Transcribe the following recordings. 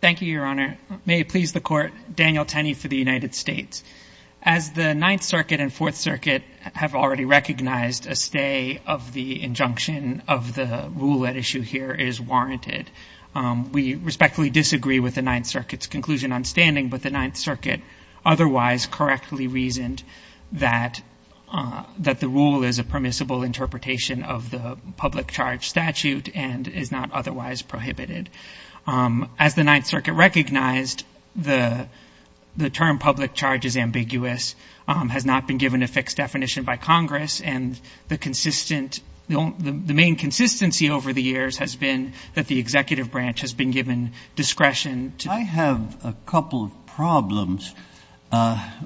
Thank you, Your Honor. May it please the Court, Daniel Tenney for the United States. As the Ninth Circuit and Fourth Circuit have already recognized, a stay of the injunction of the rule at issue here is warranted. We respectfully disagree with the Ninth Circuit's conclusion on standing, but the Ninth Circuit otherwise correctly reasoned that the rule is a permissible interpretation of the public charge statute and is not otherwise prohibited. As the Ninth Circuit recognized, the term public charge is ambiguous, has not been given a fixed definition by Congress, and the main consistency over the years has been that the executive branch has been given discretion. I have a couple of problems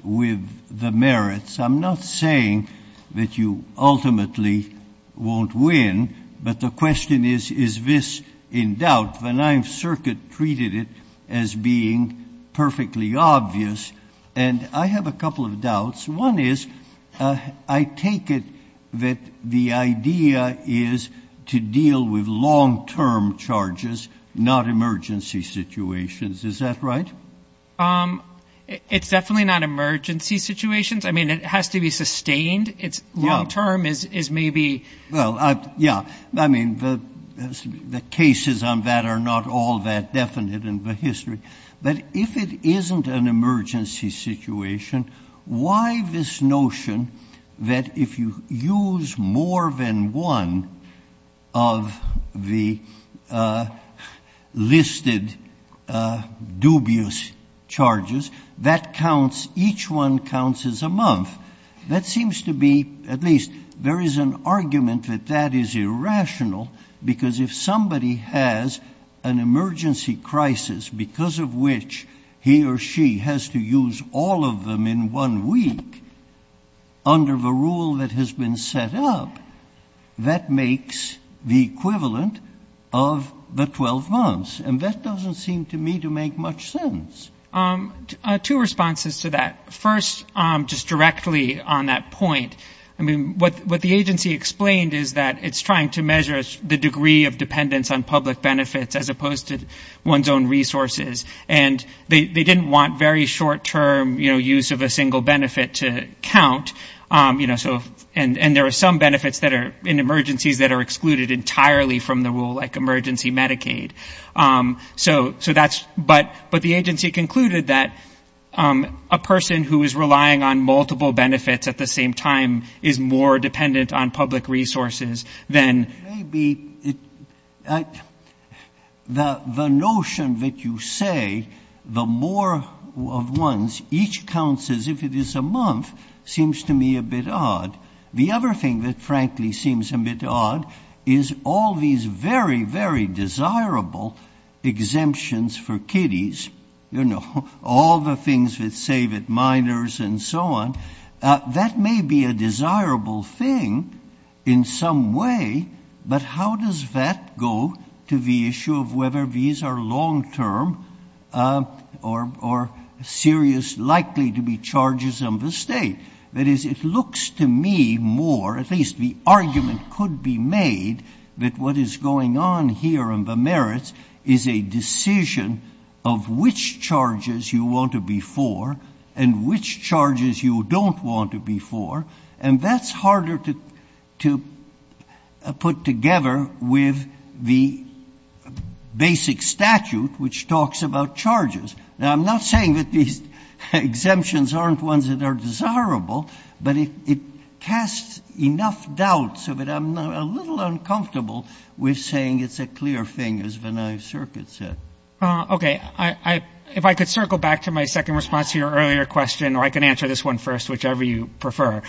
with the merits. I'm not saying that you ultimately won't win, but the question is, is this in doubt? The Ninth Circuit treated it as being perfectly obvious, and I have a couple of doubts. One is, I take it that the idea is to deal with long-term charges, not emergency situations. Is that right? It's definitely not emergency situations. I mean, it has to be sustained. It's long-term is maybe Well, yeah. I mean, the cases on that are not all that definite in the history. But if it isn't an emergency situation, why this notion that if you use more than one of the listed dubious charges, that each one counts as a month? That seems to be, at least, there is an argument that that is irrational, because if somebody has an emergency crisis because of which he or she has to use all of them in one week under the rule that has been set up, that makes the equivalent of the 12 months. And that doesn't seem to me to make much sense. Two responses to that. First, just directly on that point, I mean, what the agency explained is that it's trying to measure the degree of dependence on public benefits as opposed to one's own resources. And they didn't want very short-term, you know, use of a single benefit to count. You know, so, and there are some benefits that are in emergencies that are excluded entirely from the rule, like emergency Medicaid. So that's, but the agency concluded that a person who is relying on multiple benefits at the same time is more dependent on public resources than And maybe the notion that you say the more of ones, each counts as if it is a month seems to me a bit odd. The other thing that frankly seems a bit odd is all these very, very desirable exemptions for kiddies, you know, all the things that say that minors and so on, that may be a desirable thing in some way, but how does that go to the issue of whether these are long-term or serious, likely to be charges on the state? That is, it looks to me more, at least the argument could be made, that what is going on here in the merits is a decision of which charges you want to be for and which charges you don't want to be for. And that's harder to put together with the basic statute, which talks about charges. Now, I'm not saying that these exemptions aren't ones that are desirable, but it casts enough doubt so that I'm a little uncomfortable with saying it's a clear thing, as Vinay Circuit said. Okay. If I could circle back to my second response to your earlier question, or I can answer this one first, whichever you prefer.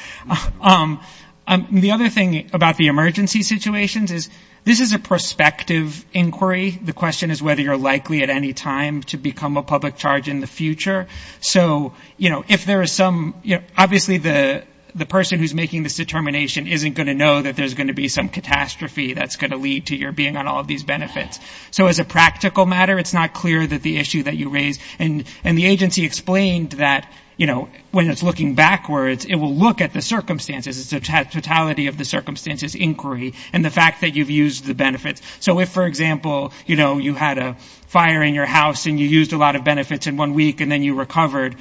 The other thing about the emergency situations is this is a prospective inquiry. The question is whether you're likely at any time to become a public charge in the future. So, you know, if there is some, you know, obviously the person who's making this determination isn't going to know that there's going to be some catastrophe that's going to lead to your being on all of these benefits. So as a practical matter, it's not clear that the issue that you raise, and the agency explained that, you know, when it's looking backwards, it will look at the circumstances. It's a totality of the circumstances inquiry and the fact that you've used the benefits. So if, for example, you know, you had a fire in your house and you used a lot of benefits in one week and then you recovered,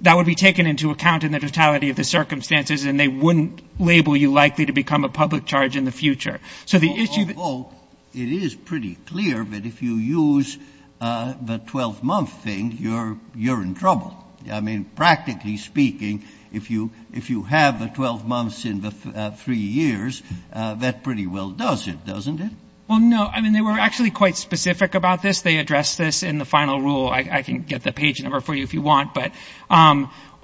that would be taken into account in the totality of the circumstances, and they wouldn't label you likely to become a public charge in the future. So the issue that you raise is that you're not likely to become a public charge in the future. Scalia. Although it is pretty clear that if you use the 12-month thing, you're in trouble. I mean, practically speaking, if you have the 12 months in the three years, that pretty well does it, doesn't it? Feigin. Well, no. I mean, they were actually quite specific about this. They addressed this in the final rule. I can get the page number for you if you want.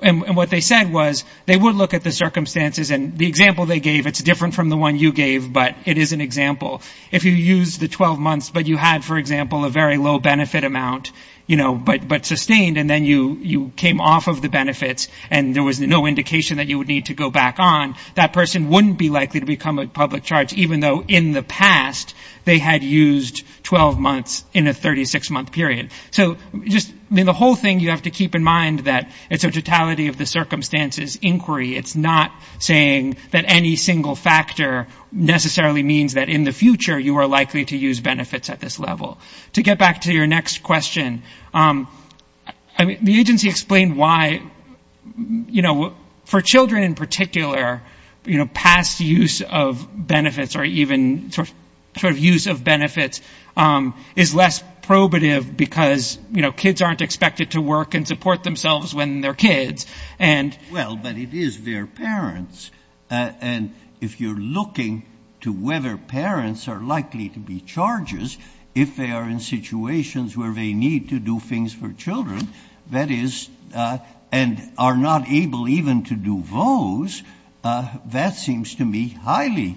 And what they said was they would look at the circumstances, and the example they gave, it's different from the one you gave, but it is an example. If you use the 12 months, but you had, for example, a very low benefit amount, you know, but sustained, and then you came off of the benefits and there was no indication that you would need to go back on, that person wouldn't be likely to become a public charge, even though in the past they had used 12 months in a 36-month period. So just, I mean, the whole thing you have to keep in mind that it's a totality of the circumstances inquiry. It's not saying that any single factor necessarily means that in the future you are likely to use benefits at this level. To get back to your next question, I mean, the agency explained why, you know, for children in benefits or even sort of use of benefits is less probative because, you know, kids aren't expected to work and support themselves when they're kids. And... Well, but it is their parents. And if you're looking to whether parents are likely to be charges if they are in situations where they need to do things for children, that is, and are not able even to do those, that seems to me highly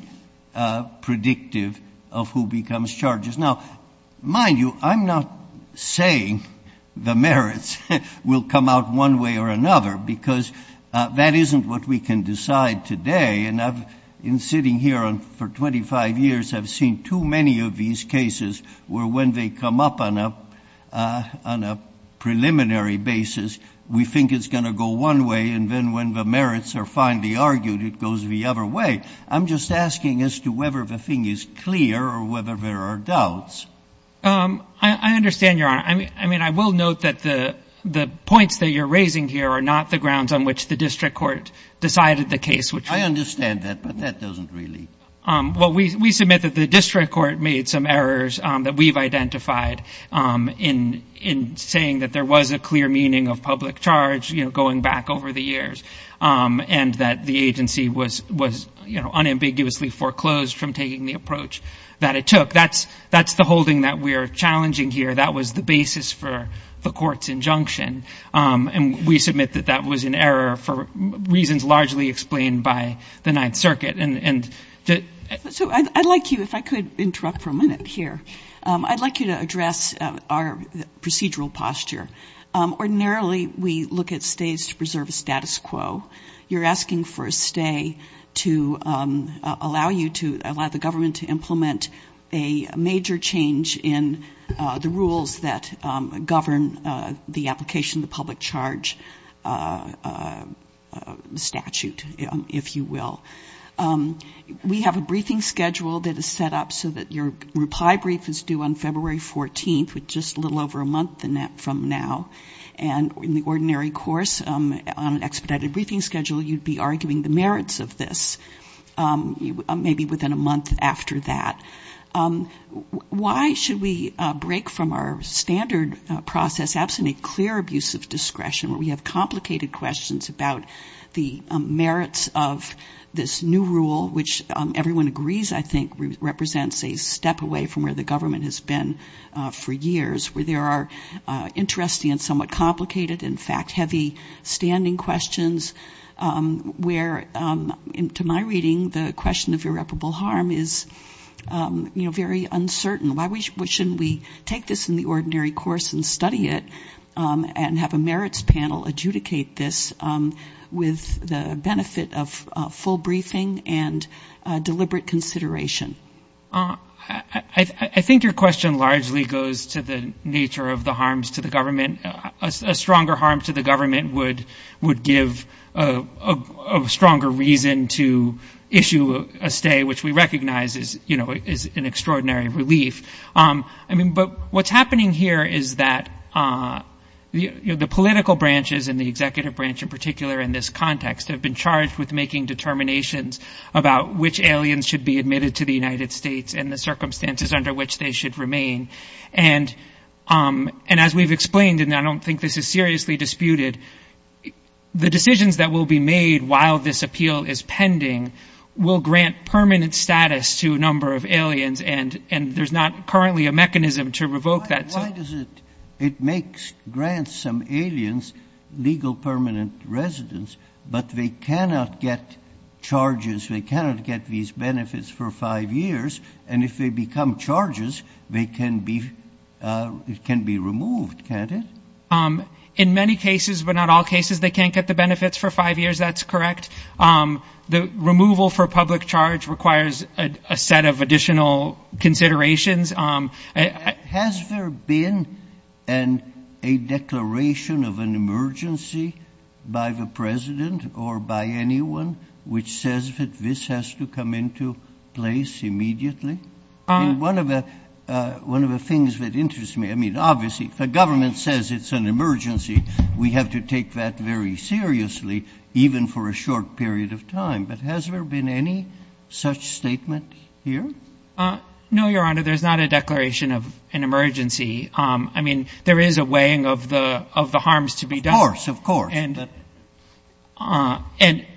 predictive of who becomes charges. Now, mind you, I'm not saying the merits will come out one way or another because that isn't what we can decide today. And I've been sitting here for 25 years, I've seen too many of these cases where when they come up on a preliminary basis, we think it's going to go one way and then when the merits are finally argued, it goes the other way. I'm just asking as to whether the thing is clear or whether there are doubts. I understand, Your Honor. I mean, I will note that the points that you're raising here are not the grounds on which the district court decided the case, which... I understand that, but that doesn't really... Well, we submit that the district court made some errors that we've identified in saying that there was a clear meaning of public charge, you know, going back over the unambiguously foreclosed from taking the approach that it took. That's the holding that we're challenging here. That was the basis for the court's injunction. And we submit that that was an error for reasons largely explained by the Ninth Circuit. And... So I'd like you, if I could interrupt for a minute here, I'd like you to address our procedural posture. Ordinarily, we look at stays to preserve a status quo. You're asking for a stay to allow you to allow the government to implement a major change in the rules that govern the application of the public charge statute, if you will. We have a briefing schedule that is set up so that your reply brief is due on February 14th, with just a little over a month from now. And in the ordinary course, on an expedited briefing schedule, you'd be arguing the merits of this, maybe within a month after that. Why should we break from our standard process, absolutely clear abuse of discretion, where we have complicated questions about the merits of this new rule, which everyone agrees, I think, represents a step away from where the government has been for years, where there are interesting and somewhat complicated, in fact, heavy-standing questions where, to my reading, the question of irreparable harm is, you know, very uncertain. Why shouldn't we take this in the ordinary course and study it and have a merits panel adjudicate this with the benefit of full consideration? I think your question largely goes to the nature of the harms to the government. A stronger harm to the government would give a stronger reason to issue a stay, which we recognize is, you know, is an extraordinary relief. I mean, but what's happening here is that the political branches and the executive branch in particular in this context have been charged with making determinations about which aliens should be admitted to the United States and the circumstances under which they should remain. And as we've explained, and I don't think this is seriously disputed, the decisions that will be made while this appeal is pending will grant permanent status to a number of aliens, and there's not currently a mechanism to revoke that. It makes grants some aliens legal permanent residence, but they cannot get charges, they cannot get these benefits for five years, and if they become charges, they can be removed, can't it? In many cases, but not all cases, they can't get the benefits for five years, that's correct. The removal for public charge requires a set of additional considerations. Has there been a declaration of an emergency by the president or by anyone which says that this has to come into place immediately? One of the things that interests me, I mean, obviously, if the government says it's an emergency, we have to take that very seriously, even for a short period of time, but has there been any such statement here? No, Your Honor, there's not a declaration of an emergency. I mean, there is a weighing of the harms to be done. Of course, of course. And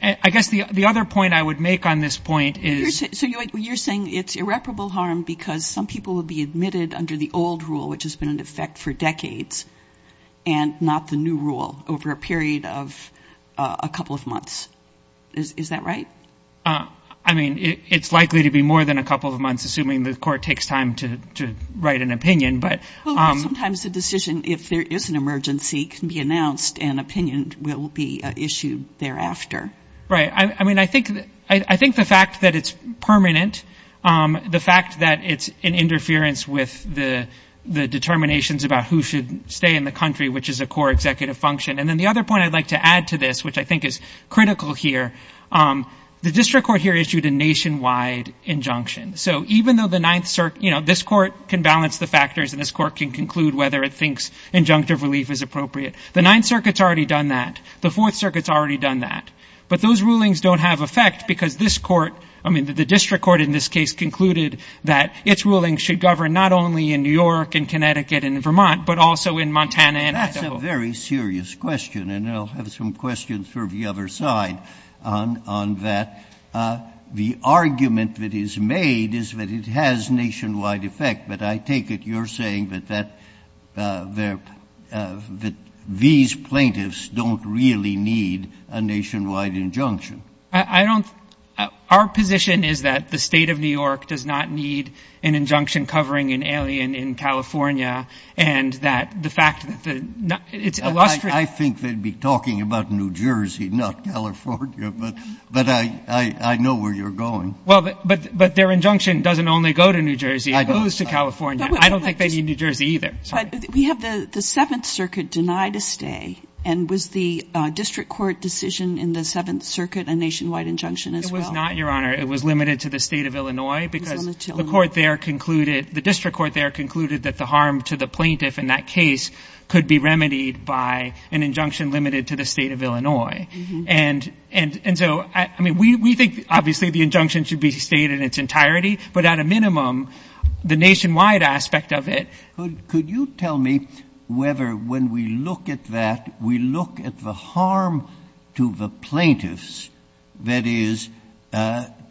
I guess the other point I would make on this point is... So you're saying it's irreparable harm because some people will be admitted under the old rule, which has been in effect for decades, and not the new rule over a period of a couple of months. Is that right? I mean, it's likely to be more than a couple of months, assuming the court takes time to write an opinion, but... Sometimes a decision, if there is an emergency, can be announced and opinion will be issued thereafter. Right. I mean, I think the fact that it's permanent, the fact that it's in interference with the determinations about who should stay in the country, which is a core executive function. And then the other point I'd like to add to this, which I think is critical here, the district court here issued a nationwide injunction. So even though the Ninth Circuit, you know, this court can balance the factors and this court can conclude whether it thinks injunctive relief is appropriate. The Ninth Circuit's already done that. The Fourth Circuit's already done that. But those rulings don't have effect because this court, I mean, the district court in this case concluded that its ruling should govern not only in New York and Connecticut and Vermont, but also in Montana and Idaho. That's a very serious question, and I'll have some questions for the other side on that. The argument that is made is that it has nationwide effect, but I take it you're saying that these plaintiffs don't really need a nationwide injunction. I don't... Our position is that the State of New York does not need an injunction covering an alien in California, and that the fact that the... I think they'd be talking about New Jersey, not California, but I know where you're going. Well, but their injunction doesn't only go to New Jersey. It goes to California. I don't think they need New Jersey either. We have the Seventh Circuit denied a stay, and was the district court decision in the Seventh Circuit a nationwide injunction as well? It was not, Your Honor. It was limited to the State of New York. The district court there concluded that the harm to the plaintiff in that case could be remedied by an injunction limited to the State of Illinois. And so, I mean, we think obviously the injunction should be stayed in its entirety, but at a minimum, the nationwide aspect of it... Could you tell me whether when we look at that, we look at the harm to the plaintiffs, that is,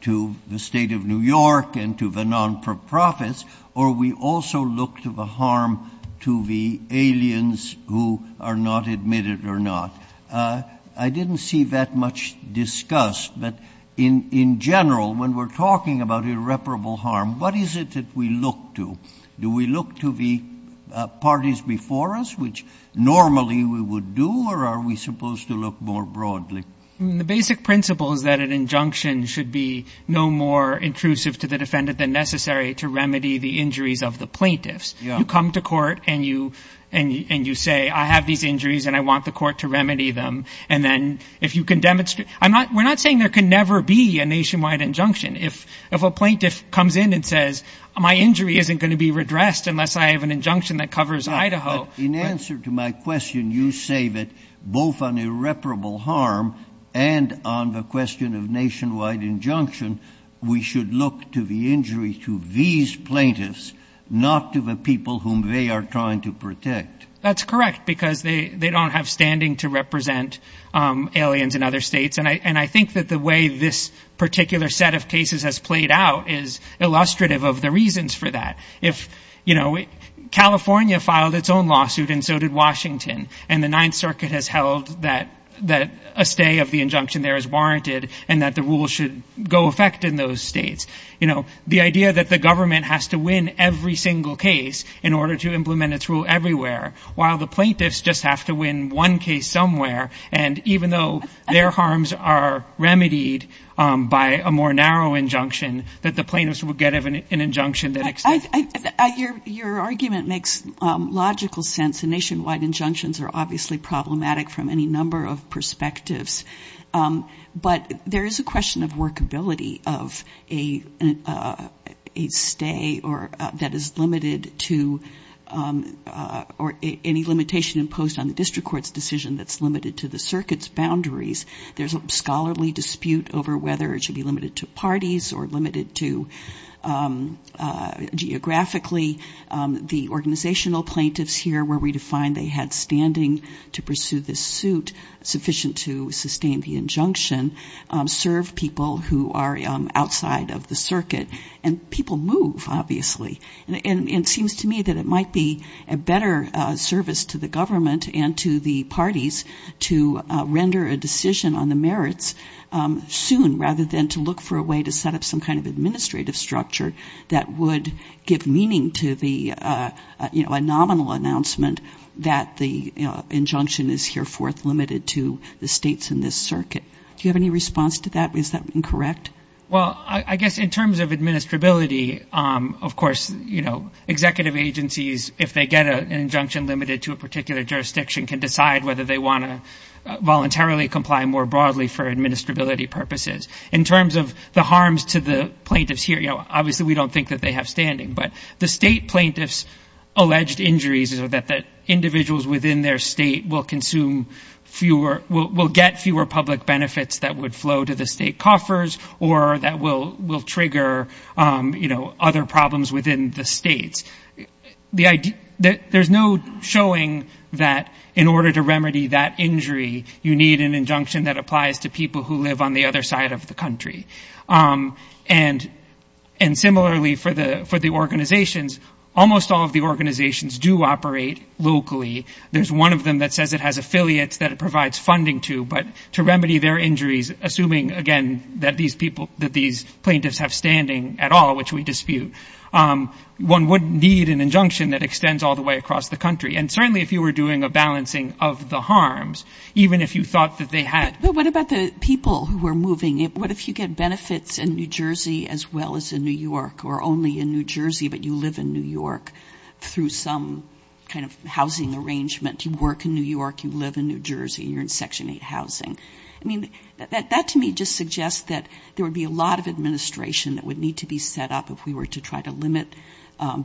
to the State of New York and to the non-for-profits, or we also look to the harm to the aliens who are not admitted or not? I didn't see that much discussed, but in general, when we're talking about irreparable harm, what is it that we look to? Do we look to the parties before us, which normally we would do, or are we supposed to look more broadly? The basic principle is that an injunction should be no more intrusive to the defendant than necessary to remedy the injuries of the plaintiffs. You come to court and you say, I have these injuries and I want the court to remedy them, and then if you can demonstrate... I'm not... We're not saying there can never be a nationwide injunction. If a plaintiff comes in and says, my injury isn't going to be redressed unless I have an injunction that covers Idaho... And on the question of nationwide injunction, we should look to the injury to these plaintiffs, not to the people whom they are trying to protect. That's correct, because they don't have standing to represent aliens in other states. And I think that the way this particular set of cases has played out is illustrative of the reasons for that. If California filed its own lawsuit, and so did Washington, and the Ninth Circuit has held that a stay of the injunction there is warranted and that the rule should go effect in those states. The idea that the government has to win every single case in order to implement its rule everywhere, while the plaintiffs just have to win one case somewhere. And even though their harms are remedied by a more narrow injunction that the plaintiffs would get of an injunction that... Your argument makes logical sense. And nationwide injunctions are obviously problematic from any number of perspectives. But there is a question of workability of a stay that is limited to... Or any limitation imposed on the district court's decision that's limited to the circuit's to... Geographically, the organizational plaintiffs here, where we define they had standing to pursue this suit, sufficient to sustain the injunction, serve people who are outside of the circuit. And people move, obviously. And it seems to me that it might be a better service to the government and to the parties to render a decision on the merits soon, rather than to look for a way to set up some kind of administrative structure that would give meaning to the nominal announcement that the injunction is here forth limited to the states in this circuit. Do you have any response to that? Is that incorrect? Well, I guess in terms of administrability, of course, executive agencies, if they get an injunction limited to a particular jurisdiction, can decide whether they want to voluntarily comply more broadly for administrability purposes. In terms of the harms to the plaintiffs here, you know, obviously we don't think that they have standing. But the state plaintiffs' alleged injuries are that the individuals within their state will consume fewer... Will get fewer public benefits that would flow to the state coffers, or that will trigger, you know, other problems within the states. There's no showing that in order to remedy that injury, you need an injunction that applies to people who live on the other side of the country. And similarly for the organizations, almost all of the organizations do operate locally. There's one of them that says it has affiliates that it provides funding to, but to remedy their injuries, assuming, again, that these plaintiffs have standing at all, which we dispute, one would need an injunction that extends all the way across the country. And certainly if you were doing a balancing of the harms, even if you thought they had... But what about the people who were moving? What if you get benefits in New Jersey as well as in New York, or only in New Jersey, but you live in New York through some kind of housing arrangement? You work in New York, you live in New Jersey, you're in Section 8 housing. I mean, that to me just suggests that there would be a lot of administration that would need to be set up if we were to try to limit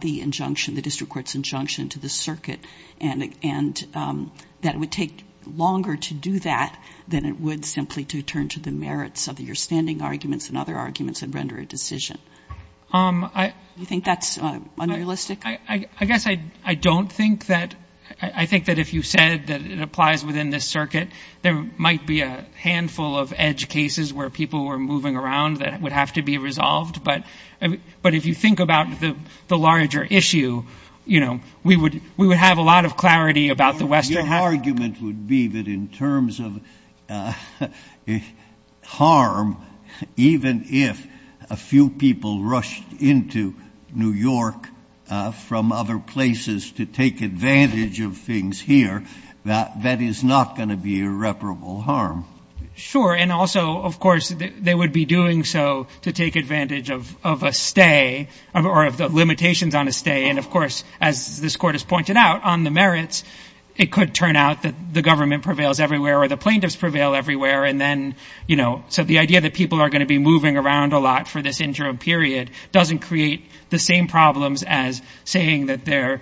the injunction, the district court's injunction to the circuit. And that it would take longer to do that than it would simply to turn to the merits of your standing arguments and other arguments and render a decision. Do you think that's unrealistic? I guess I don't think that... I think that if you said that it applies within this circuit, there might be a handful of edge cases where people were moving around that would have to be about the Western... Your argument would be that in terms of harm, even if a few people rushed into New York from other places to take advantage of things here, that that is not going to be irreparable harm. Sure. And also, of course, they would be doing so to take advantage of a stay or of the limitations on a stay. And of course, as this court has pointed out on the merits, it could turn out that the government prevails everywhere or the plaintiffs prevail everywhere. And then, so the idea that people are going to be moving around a lot for this interim period doesn't create the same problems as saying that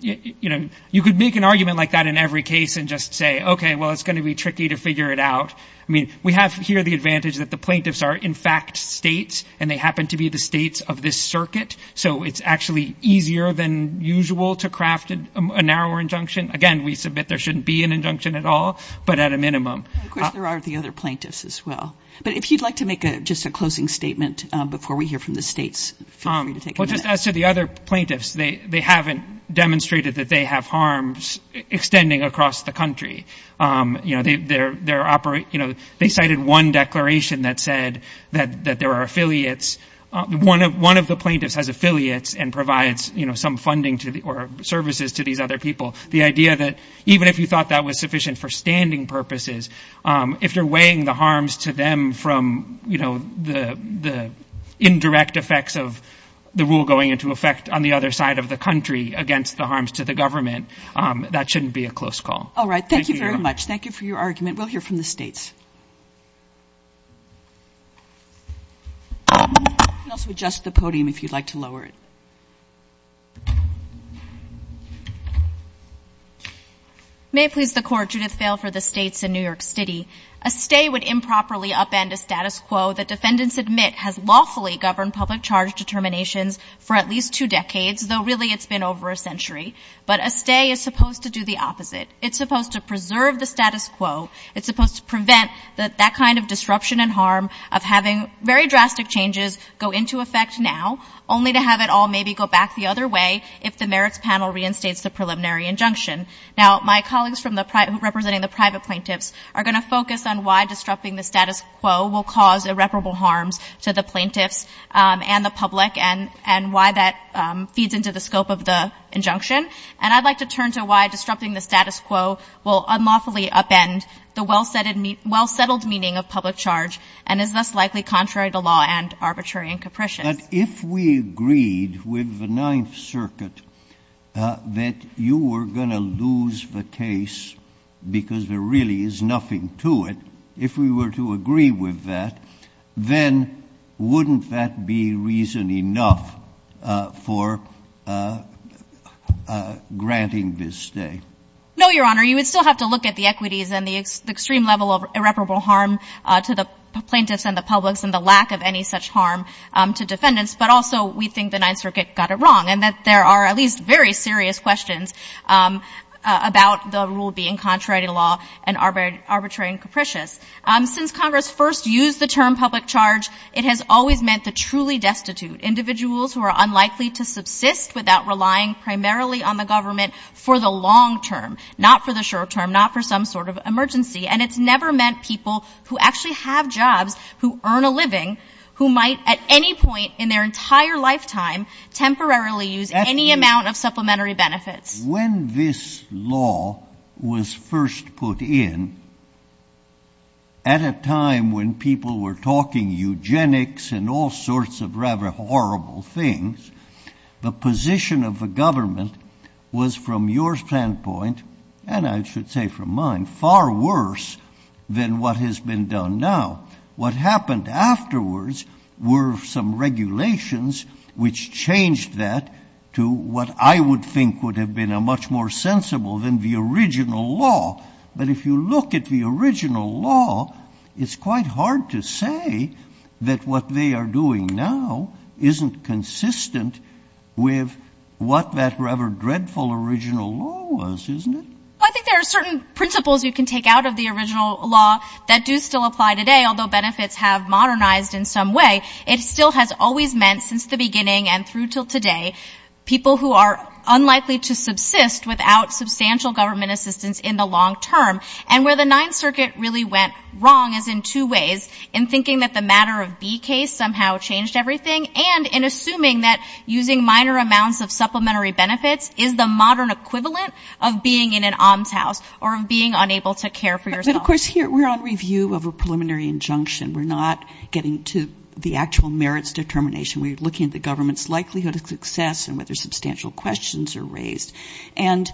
you could make an argument like that in every case and just say, okay, well, it's going to be tricky to figure it out. I mean, we have here the advantage that the plaintiffs are in fact states and they happen to be the states of this circuit. So it's actually easier than usual to craft a narrower injunction. Again, we submit there shouldn't be an injunction at all, but at a minimum. Of course, there are the other plaintiffs as well. But if you'd like to make just a closing statement before we hear from the states, feel free to take it. Well, just as to the other plaintiffs, they haven't demonstrated that they have harms extending across the country. You know, they cited one declaration that said that there are affiliates, one of the plaintiffs has affiliates and provides some funding or services to these other people. The idea that even if you thought that was sufficient for standing purposes, if you're weighing the harms to them from the indirect effects of the rule going into effect on the other side of the country against the harms to the government, that shouldn't be a close call. All right. Thank you very much. Thank you for your argument. We'll hear from the states. You can also adjust the podium if you'd like to lower it. May it please the court, Judith Vail for the states in New York City. A stay would improperly upend a status quo that defendants admit has lawfully governed public charge determinations for at least two decades, though really it's been over a century. But a stay is supposed to do the preserve the status quo. It's supposed to prevent that kind of disruption and harm of having very drastic changes go into effect now, only to have it all maybe go back the other way if the merits panel reinstates the preliminary injunction. Now, my colleagues representing the private plaintiffs are going to focus on why disrupting the status quo will cause irreparable harms to the plaintiffs and the public and why that feeds into the scope of the injunction. And I'd like to turn to why will unlawfully upend the well-settled meaning of public charge and is thus likely contrary to law and arbitrary and capricious. But if we agreed with the Ninth Circuit that you were going to lose the case because there really is nothing to it, if we were to agree with that, then wouldn't that be reason enough for granting this stay? No, Your Honor. You would still have to look at the equities and the extreme level of irreparable harm to the plaintiffs and the public and the lack of any such harm to defendants. But also we think the Ninth Circuit got it wrong and that there are at least very serious questions about the rule being contrary to law and arbitrary and capricious. Since Congress first used the term public charge, it has always meant the truly destitute, individuals who are unlikely to subsist without relying primarily on the government for the long term, not for the short term, not for some sort of emergency. And it's never meant people who actually have jobs, who earn a living, who might at any point in their entire lifetime temporarily use any amount of supplementary benefits. When this law was first put in, at a time when people were talking eugenics and all sorts of rather horrible things, the position of the government was from your standpoint, and I should say from mine, far worse than what has been done now. What happened afterwards were some regulations which changed that to what I would think would have been a much more sensible than the original law. But if you look at the original law, it's quite hard to say that what they are doing now isn't consistent with what that rather dreadful original law was, isn't it? I think there are certain principles you can take out of the original law that do still apply today, although benefits have modernized in some way. It still has always meant, since the beginning and through till today, people who are unlikely to subsist without substantial government assistance in the long term. And where the Ninth Circuit really went wrong is in two ways, in thinking that the matter of B case somehow changed everything, and in assuming that using minor amounts of supplementary benefits is the modern equivalent of being in an almshouse or of being unable to care for yourself. But of course here we're on review of a preliminary injunction. We're not getting to the actual and whether substantial questions are raised. And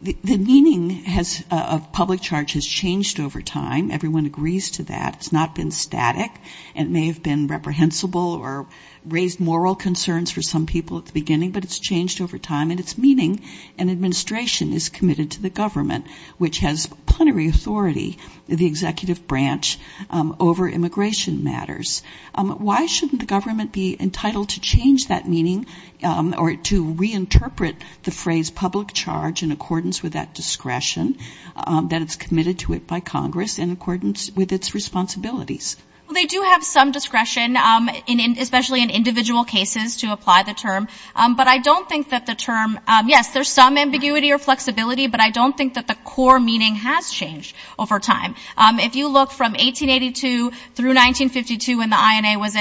the meaning of public charge has changed over time. Everyone agrees to that. It's not been static. It may have been reprehensible or raised moral concerns for some people at the beginning, but it's changed over time. And its meaning and administration is committed to the government, which has plenary authority, the executive branch over immigration matters. Why shouldn't the government be entitled to change that meaning or to reinterpret the phrase public charge in accordance with that discretion that is committed to it by Congress in accordance with its responsibilities? Well, they do have some discretion, especially in individual cases, to apply the term. But I don't think that the term, yes, there's some ambiguity or flexibility, but I don't think that the core meaning has changed over time. If you look from 1882 through 1952 when the INA was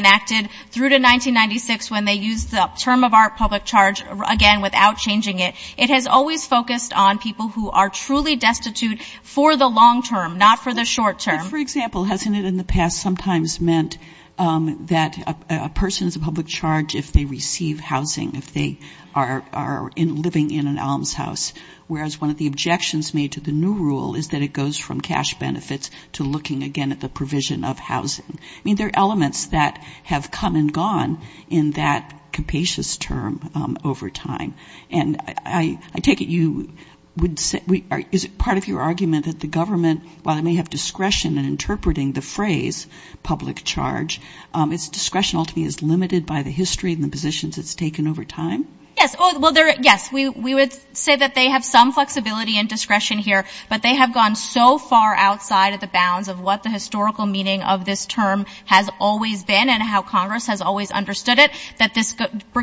public charge, again, without changing it, it has always focused on people who are truly destitute for the long term, not for the short term. For example, hasn't it in the past sometimes meant that a person is a public charge if they receive housing, if they are living in an almshouse, whereas one of the objections made to the new rule is that it goes from cash benefits to looking again at the provision of housing. I mean, there are elements that have come and gone in that capacious term over time. And I take it you would say, is it part of your argument that the government, while they may have discretion in interpreting the phrase public charge, its discretion ultimately is limited by the history and the positions it's taken over time? Yes. Well, yes, we would say that they have some flexibility and discretion here, but they have gone so far outside of the bounds of what the historical meaning of this term has always been and how Congress has always understood it, that this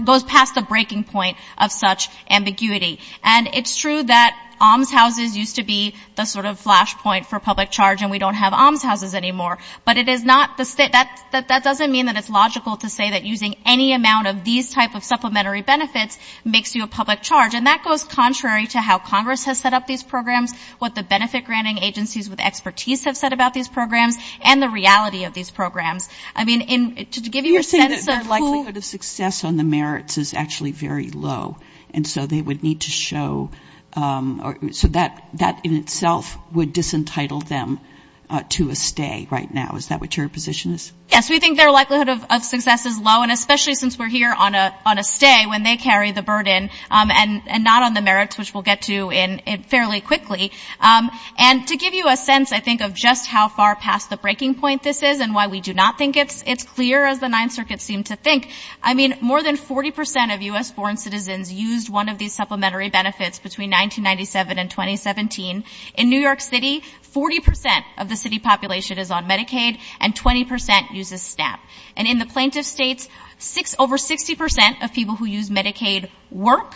goes past the breaking point of such ambiguity. And it's true that almshouses used to be the sort of flash point for public charge, and we don't have almshouses anymore. But it is not the state, that doesn't mean that it's logical to say that using any amount of these type of supplementary benefits makes you a public charge. And that goes contrary to how Congress has set up these programs, the benefit granting agencies with expertise have said about these programs, and the reality of these programs. I mean, to give you a sense of who... You're saying that their likelihood of success on the merits is actually very low. And so they would need to show, so that in itself would disentitle them to a stay right now. Is that what your position is? Yes. We think their likelihood of success is low. And especially since we're here on a stay, when they carry the burden, and not on the merits, which we'll get to fairly quickly. And to give you a sense, I think, of just how far past the breaking point this is, and why we do not think it's clear as the Ninth Circuit seemed to think, I mean, more than 40% of U.S.-born citizens used one of these supplementary benefits between 1997 and 2017. In New York City, 40% of the city population is on Medicaid, and 20% uses SNAP. And in the plaintiff states, over 60% of people who use Medicaid work.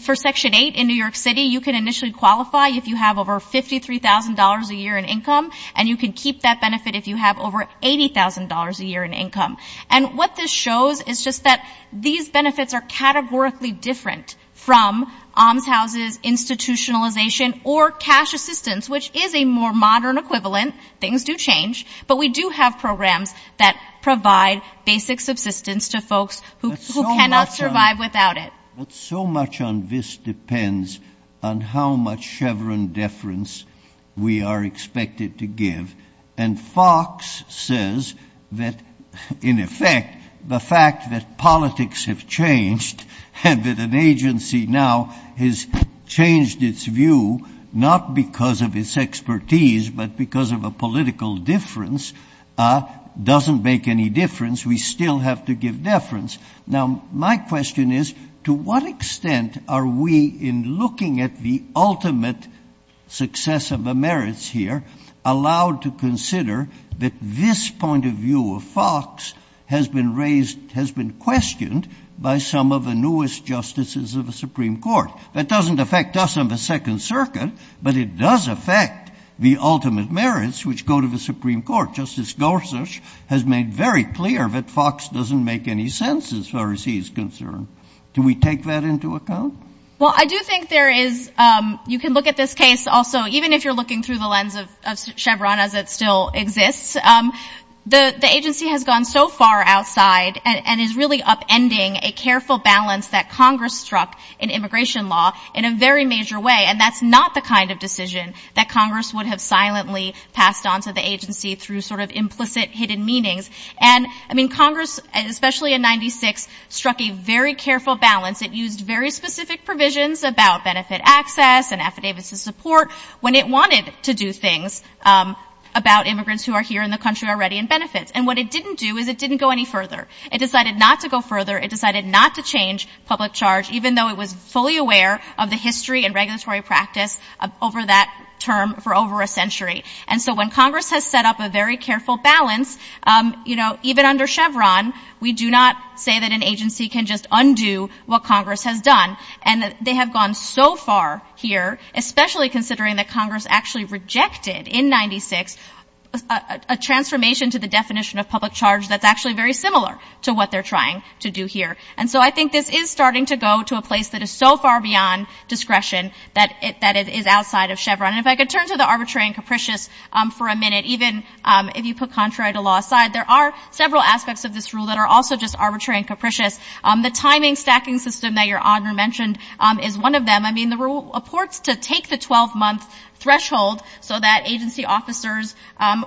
For Section 8 in New York City, you can initially qualify if you have over $53,000 a year in income, and you can keep that benefit if you have over $80,000 a year in income. And what this shows is just that these benefits are categorically different from OMS houses, institutionalization, or cash assistance, which is a more modern equivalent. Things do change, but we do have programs that provide basic subsistence to folks who cannot survive without it. But so much on this depends on how much Chevron deference we are expected to give. And Fox says that, in effect, the fact that politics have changed, and that an agency now has changed its view, not because of its expertise, but because of a political difference, doesn't make any difference. We still have to give deference. Now, my question is, to what extent are we, in looking at the ultimate success of the merits here, allowed to consider that this view of Fox has been questioned by some of the newest justices of the Supreme Court? That doesn't affect us on the Second Circuit, but it does affect the ultimate merits which go to the Supreme Court. Justice Gorsuch has made very clear that Fox doesn't make any sense, as far as he's concerned. Do we take that into account? Well, I do think there is, you can look at this case, also, even if you're looking through the lens of the agency has gone so far outside and is really upending a careful balance that Congress struck in immigration law in a very major way. And that's not the kind of decision that Congress would have silently passed on to the agency through sort of implicit hidden meanings. And, I mean, Congress, especially in 96, struck a very careful balance. It used very specific provisions about benefit access and affidavits of support when it wanted to do things about immigrants who are here in the country already in benefits. And what it didn't do is it didn't go any further. It decided not to go further. It decided not to change public charge, even though it was fully aware of the history and regulatory practice over that term for over a century. And so when Congress has set up a very careful balance, you know, even under Chevron, we do not say that an agency can just undo what Congress has done. And they have gone so far here, especially considering that Congress actually rejected in 96 a transformation to the definition of public charge that's actually very similar to what they're trying to do here. And so I think this is starting to go to a place that is so far beyond discretion that it is outside of Chevron. And if I could turn to the arbitrary and capricious for a minute, even if you put contrary to law aside, there are several aspects of this rule that are also just arbitrary and capricious. The timing stacking system that Your Honor mentioned is one of them. I mean, the rule purports to take the 12-month threshold so that agency officers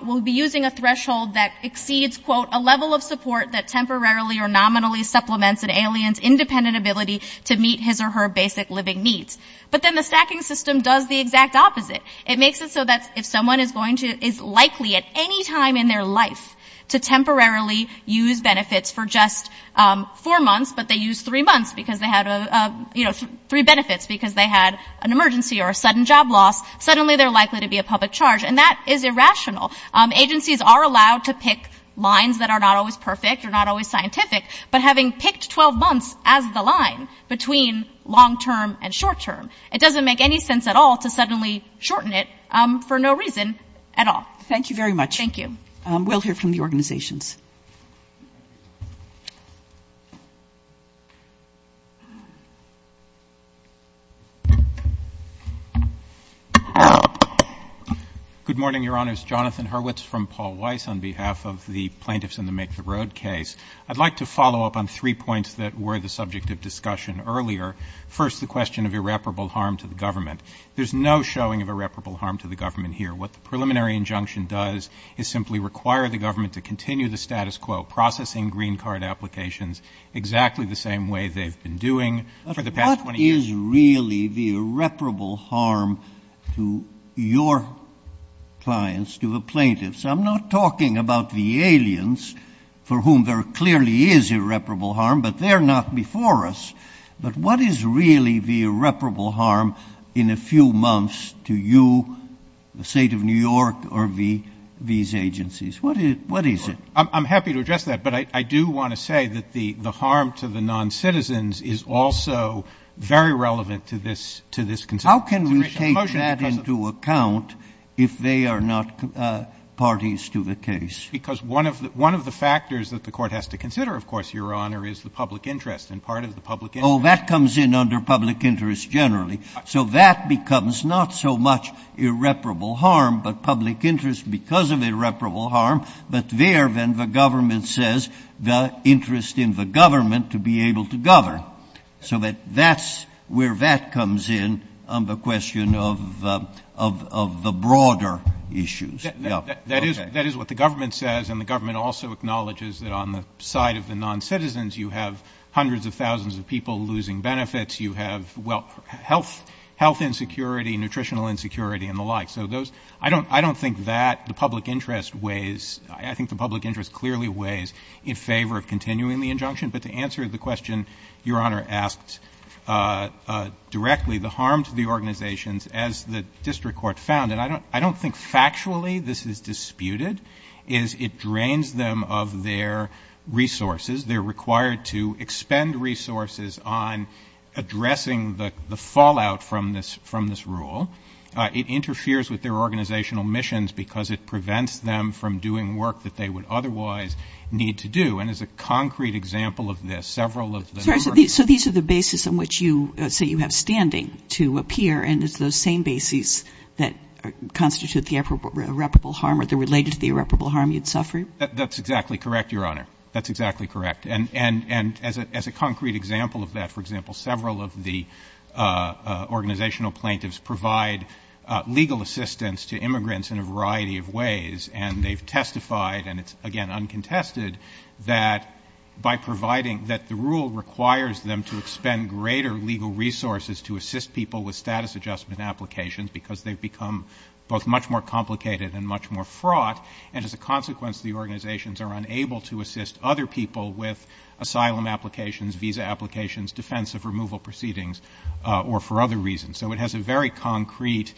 will be using a threshold that exceeds, quote, a level of support that temporarily or nominally supplements an alien's independent ability to meet his or her basic living needs. But then the stacking system does the exact opposite. It makes it so that if someone is going to, is likely at any time in their life to temporarily use benefits for just four months, but they used three months because they had a, you know, three benefits because they had an emergency or a sudden job loss, suddenly they're likely to be a public charge. And that is irrational. Agencies are allowed to pick lines that are not always perfect or not always scientific, but having picked 12 months as the line between long-term and short-term, it doesn't make any sense at all to suddenly shorten it for no reason at all. Thank you very much. Thank you. We'll hear from the organizations. Good morning, Your Honors. Jonathan Hurwitz from Paul Weiss on behalf of the Plaintiffs in the Make the Road case. I'd like to follow up on three points that were the subject of discussion earlier. First, the question of irreparable harm to the government. There's no showing of irreparable harm to the government here. What the preliminary injunction does is simply require the government to continue the status quo, processing green card applications exactly the same way they've been doing for the past 20 years. But what is really the irreparable harm to your clients, to the plaintiffs? I'm not talking about the aliens for whom there clearly is irreparable harm, but they're not before us. But what is really the irreparable harm in a few months to you, the state of New York, or these agencies? What is it? I'm happy to address that, but I do want to say that the harm to the non-citizens is also very relevant to this consideration. How can we take that into account if they are not parties to the case? Because one of the factors that the court has to consider, of course, Your Honor, is the public interest, and part of the public interest— Oh, that comes in under public interest generally. So that becomes not so much irreparable harm, but public interest because of irreparable harm. But there, then, the government says the interest in the government to be able to govern. So that's where that comes in on the question of the broader issues. Yeah. Okay. That is what the government says, and the government also acknowledges that on the side of the non-citizens you have hundreds of thousands of people losing benefits. You have, well, health insecurity, nutritional insecurity, and the like. So those—I don't think that the public interest weighs—I think the public interest clearly weighs in favor of continuing the injunction. But to answer the question Your Honor asked directly, the harm to the organizations, as the district court found—and I don't think factually this is disputed—is it drains them of their resources. They're required to expend resources on addressing the fallout from this rule. It interferes with their organizational missions because it prevents them from doing work that they would otherwise need to do. And as a concrete example of this, several of the— That's exactly correct, Your Honor. That's exactly correct. And as a concrete example of that, for example, several of the organizational plaintiffs provide legal assistance to immigrants in a variety of ways. And they've testified, and it's again uncontested, that by providing—that the rule requires them to expend greater legal resources to assist people with status adjustment applications because they've become both much more complicated and much more fraught. And as a consequence, the organizations are unable to assist other people with asylum applications, visa applications, defensive removal proceedings, or for other reasons. So it has a very concrete—it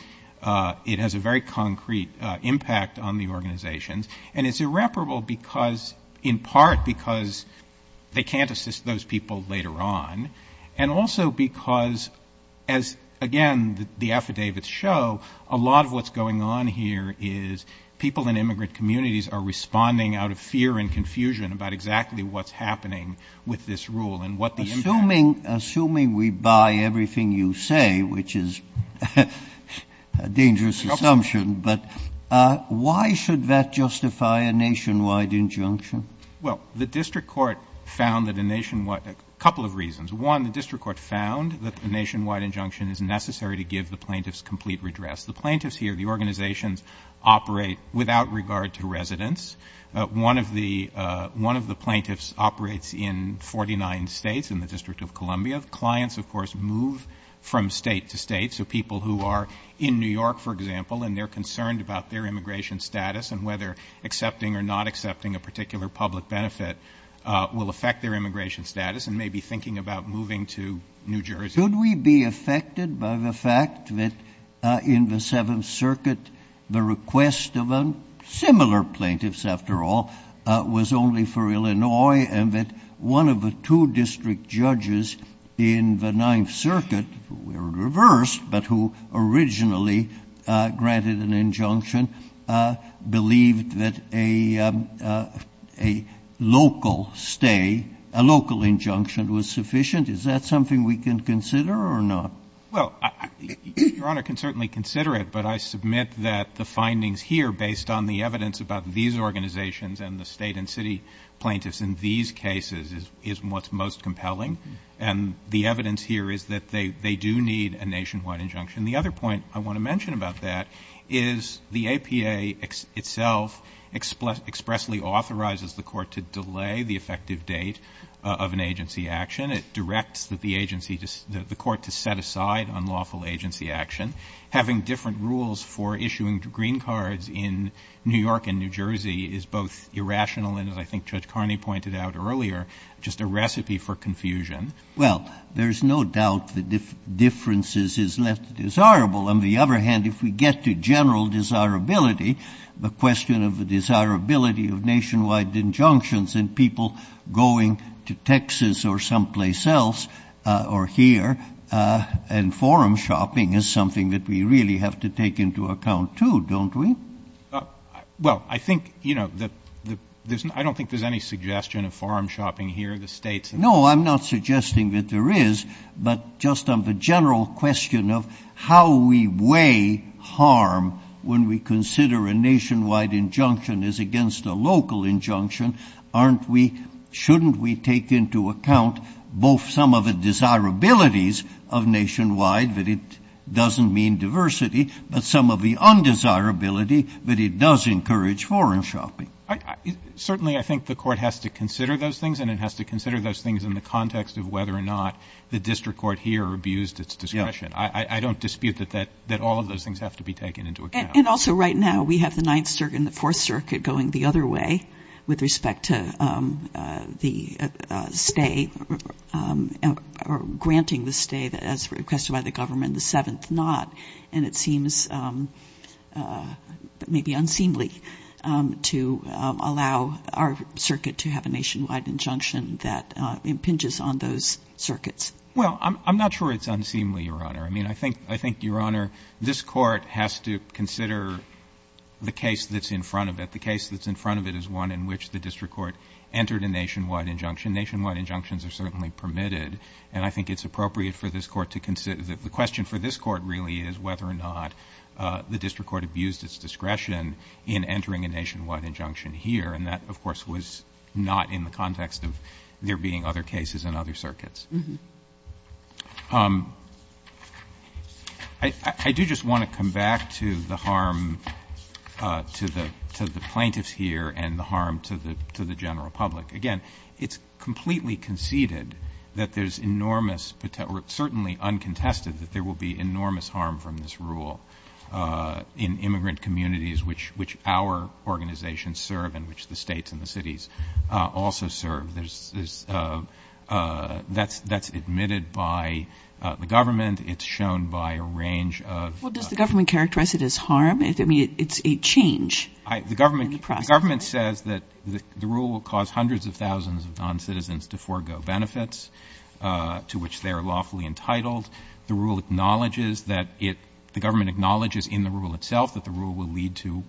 has a very concrete impact on the organizations. And it's irreparable because—in part because they can't assist those people later on, and also because, as again the affidavits show, a lot of what's going on here is people in immigrant communities are responding out of fear and confusion about exactly what's happening with this rule and what the impact— Assuming we buy everything you say, which is a dangerous assumption, but why should that justify a nationwide injunction? Well, the district court found that a nationwide—a couple of reasons. One, the district court found that the nationwide injunction is necessary to give the plaintiffs complete redress. The plaintiffs here, the organizations operate without regard to residents. One of the—one of the plaintiffs operates in 49 states in the District of Columbia. Clients, of course, move from state to state, so people who are in New York, for example, and they're concerned about their immigration status and whether accepting or not accepting a particular public benefit will affect their immigration status and maybe thinking about moving to New Jersey. Could we be affected by the fact that in the Seventh Circuit, the request of a—similar plaintiffs, after all—was only for Illinois and that one of the two district judges in the Ninth Circuit, who were reversed but who originally granted an injunction, believed that a local stay, a local injunction was sufficient? Is that something we can consider or not? Well, Your Honor, I can certainly consider it, but I submit that the findings here, based on the evidence about these organizations and the state and city plaintiffs in these cases, is what's most compelling. And the evidence here is that they do need a nationwide injunction. The other point I want to mention about that is the APA itself expressly authorizes the Court to delay the effective date of an agency action. It directs the agency, the Court, to set aside unlawful agency action. Having different rules for issuing green cards in New York and New Jersey is both irrational and, as I think Judge Carney pointed out earlier, just a recipe for confusion. Well, there's no doubt that differences is less desirable. On the other hand, if we get to general desirability, the question of the desirability of nationwide injunctions and people going to Texas or someplace else or here and forum shopping is something that we really have to take into account, too, don't we? Well, I think, you know, I don't think there's any suggestion of forum shopping here. The States... No, I'm not suggesting that there is, but just on the general question of how we weigh harm when we consider a nationwide injunction is against a local injunction, aren't we, shouldn't we take into account both some of the desirabilities of nationwide, that it doesn't mean diversity, but some of the undesirability that it does encourage forum shopping? Certainly, I think the Court has to consider those things, and it has to consider those things in the context of whether or not the district court here abused its discretion. I don't dispute that all of those things have to be taken into account. And also, right now, we have the Ninth Circuit and the Fourth Circuit going the other way with respect to the stay or granting the stay as requested by the government, the Seventh Knot, and it seems maybe unseemly to allow our circuit to have a nationwide injunction that impinges on those circuits. Well, I'm not sure it's unseemly, Your Honor. I mean, I think, Your Honor, this Court has to the district court entered a nationwide injunction. Nationwide injunctions are certainly permitted, and I think it's appropriate for this Court to consider the question for this Court, really, is whether or not the district court abused its discretion in entering a nationwide injunction here. And that, of course, was not in the context of there being other cases in other circuits. I do just want to come back to the harm to the plaintiffs here and the harm to the general public. Again, it's completely conceded that there's enormous, or certainly uncontested, that there will be enormous harm from this rule in immigrant communities which our organizations serve and which the states and the cities also serve. That's admitted by the government. It's shown by a range of — Well, does the government characterize it as harm? I mean, it's a change in the process. The government says that the rule will cause hundreds of thousands of noncitizens to forego benefits to which they are lawfully entitled. The rule acknowledges that it — the government acknowledges in the rule itself that the rule will lead to,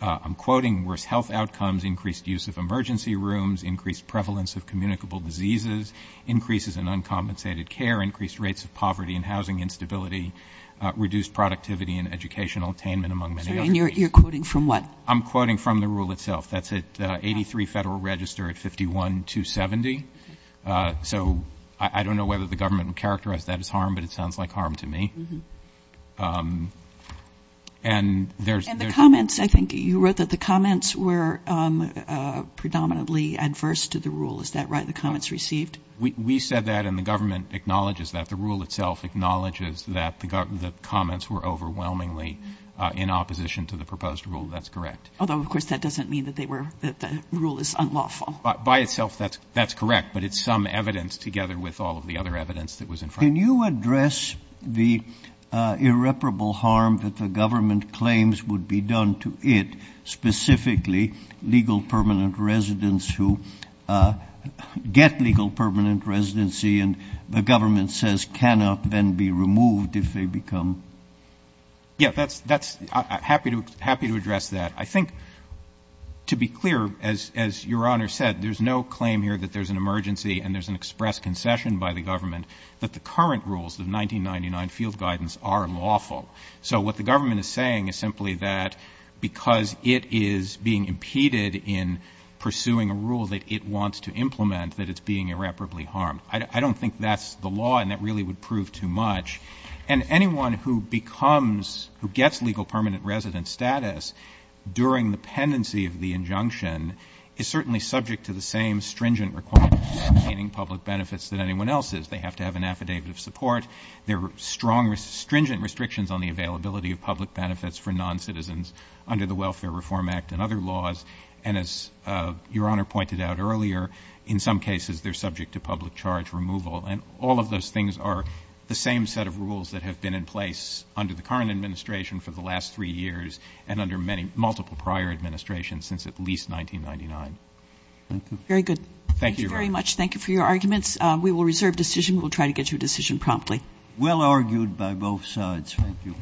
I'm quoting, worse health outcomes, increased use of emergency rooms, increased prevalence of communicable diseases, increases in uncompensated care, increased rates of poverty and housing instability, reduced productivity and educational attainment, among many other things. And you're quoting from what? I'm quoting from the rule itself. That's at 83 Federal Register at 51-270. So I don't know whether the government would characterize that as harm, but it sounds like harm to me. And there's — And the comments — I think you wrote that the comments were predominantly adverse to the rule. Is that right, the comments received? We said that, and the government acknowledges that. The rule itself acknowledges that the comments were overwhelmingly in opposition to the proposed rule. That's correct. Although, of course, that doesn't mean that they were — that the rule is unlawful. By itself, that's correct. But it's some evidence, together with all of the other evidence that was in front of it. Can you address the irreparable harm that the government claims would be done to it, specifically legal permanent residents who get legal permanent residency and the government says cannot then be removed if they become — Yeah, that's — happy to address that. I think, to be clear, as Your Honor said, there's no claim here that there's an emergency and there's an express concession by the government that the current rules of 1999 field guidance are lawful. So what the government is saying is simply that because it is being impeded in pursuing a rule that it wants to implement, that it's being irreparably harmed. I don't think that's the law, and that really would prove too much. And anyone who becomes — who gets legal permanent resident status during the pendency of the injunction is certainly subject to the same stringent requirements for obtaining public benefits that anyone else is. They have to have an affidavit of support. There are strong — stringent restrictions on the availability of public benefits for noncitizens under the Welfare Reform Act and other laws. And as Your Honor pointed out earlier, in some cases they're subject to public charge removal. And all of those things are the same set of rules that have been in place under the current administration for the last three years and under many — multiple prior administrations since at least 1999. Thank you. Very good. Thank you very much. Thank you for your arguments. We will reserve decision. We'll try to get your decision promptly. Well argued by both sides. Thank you.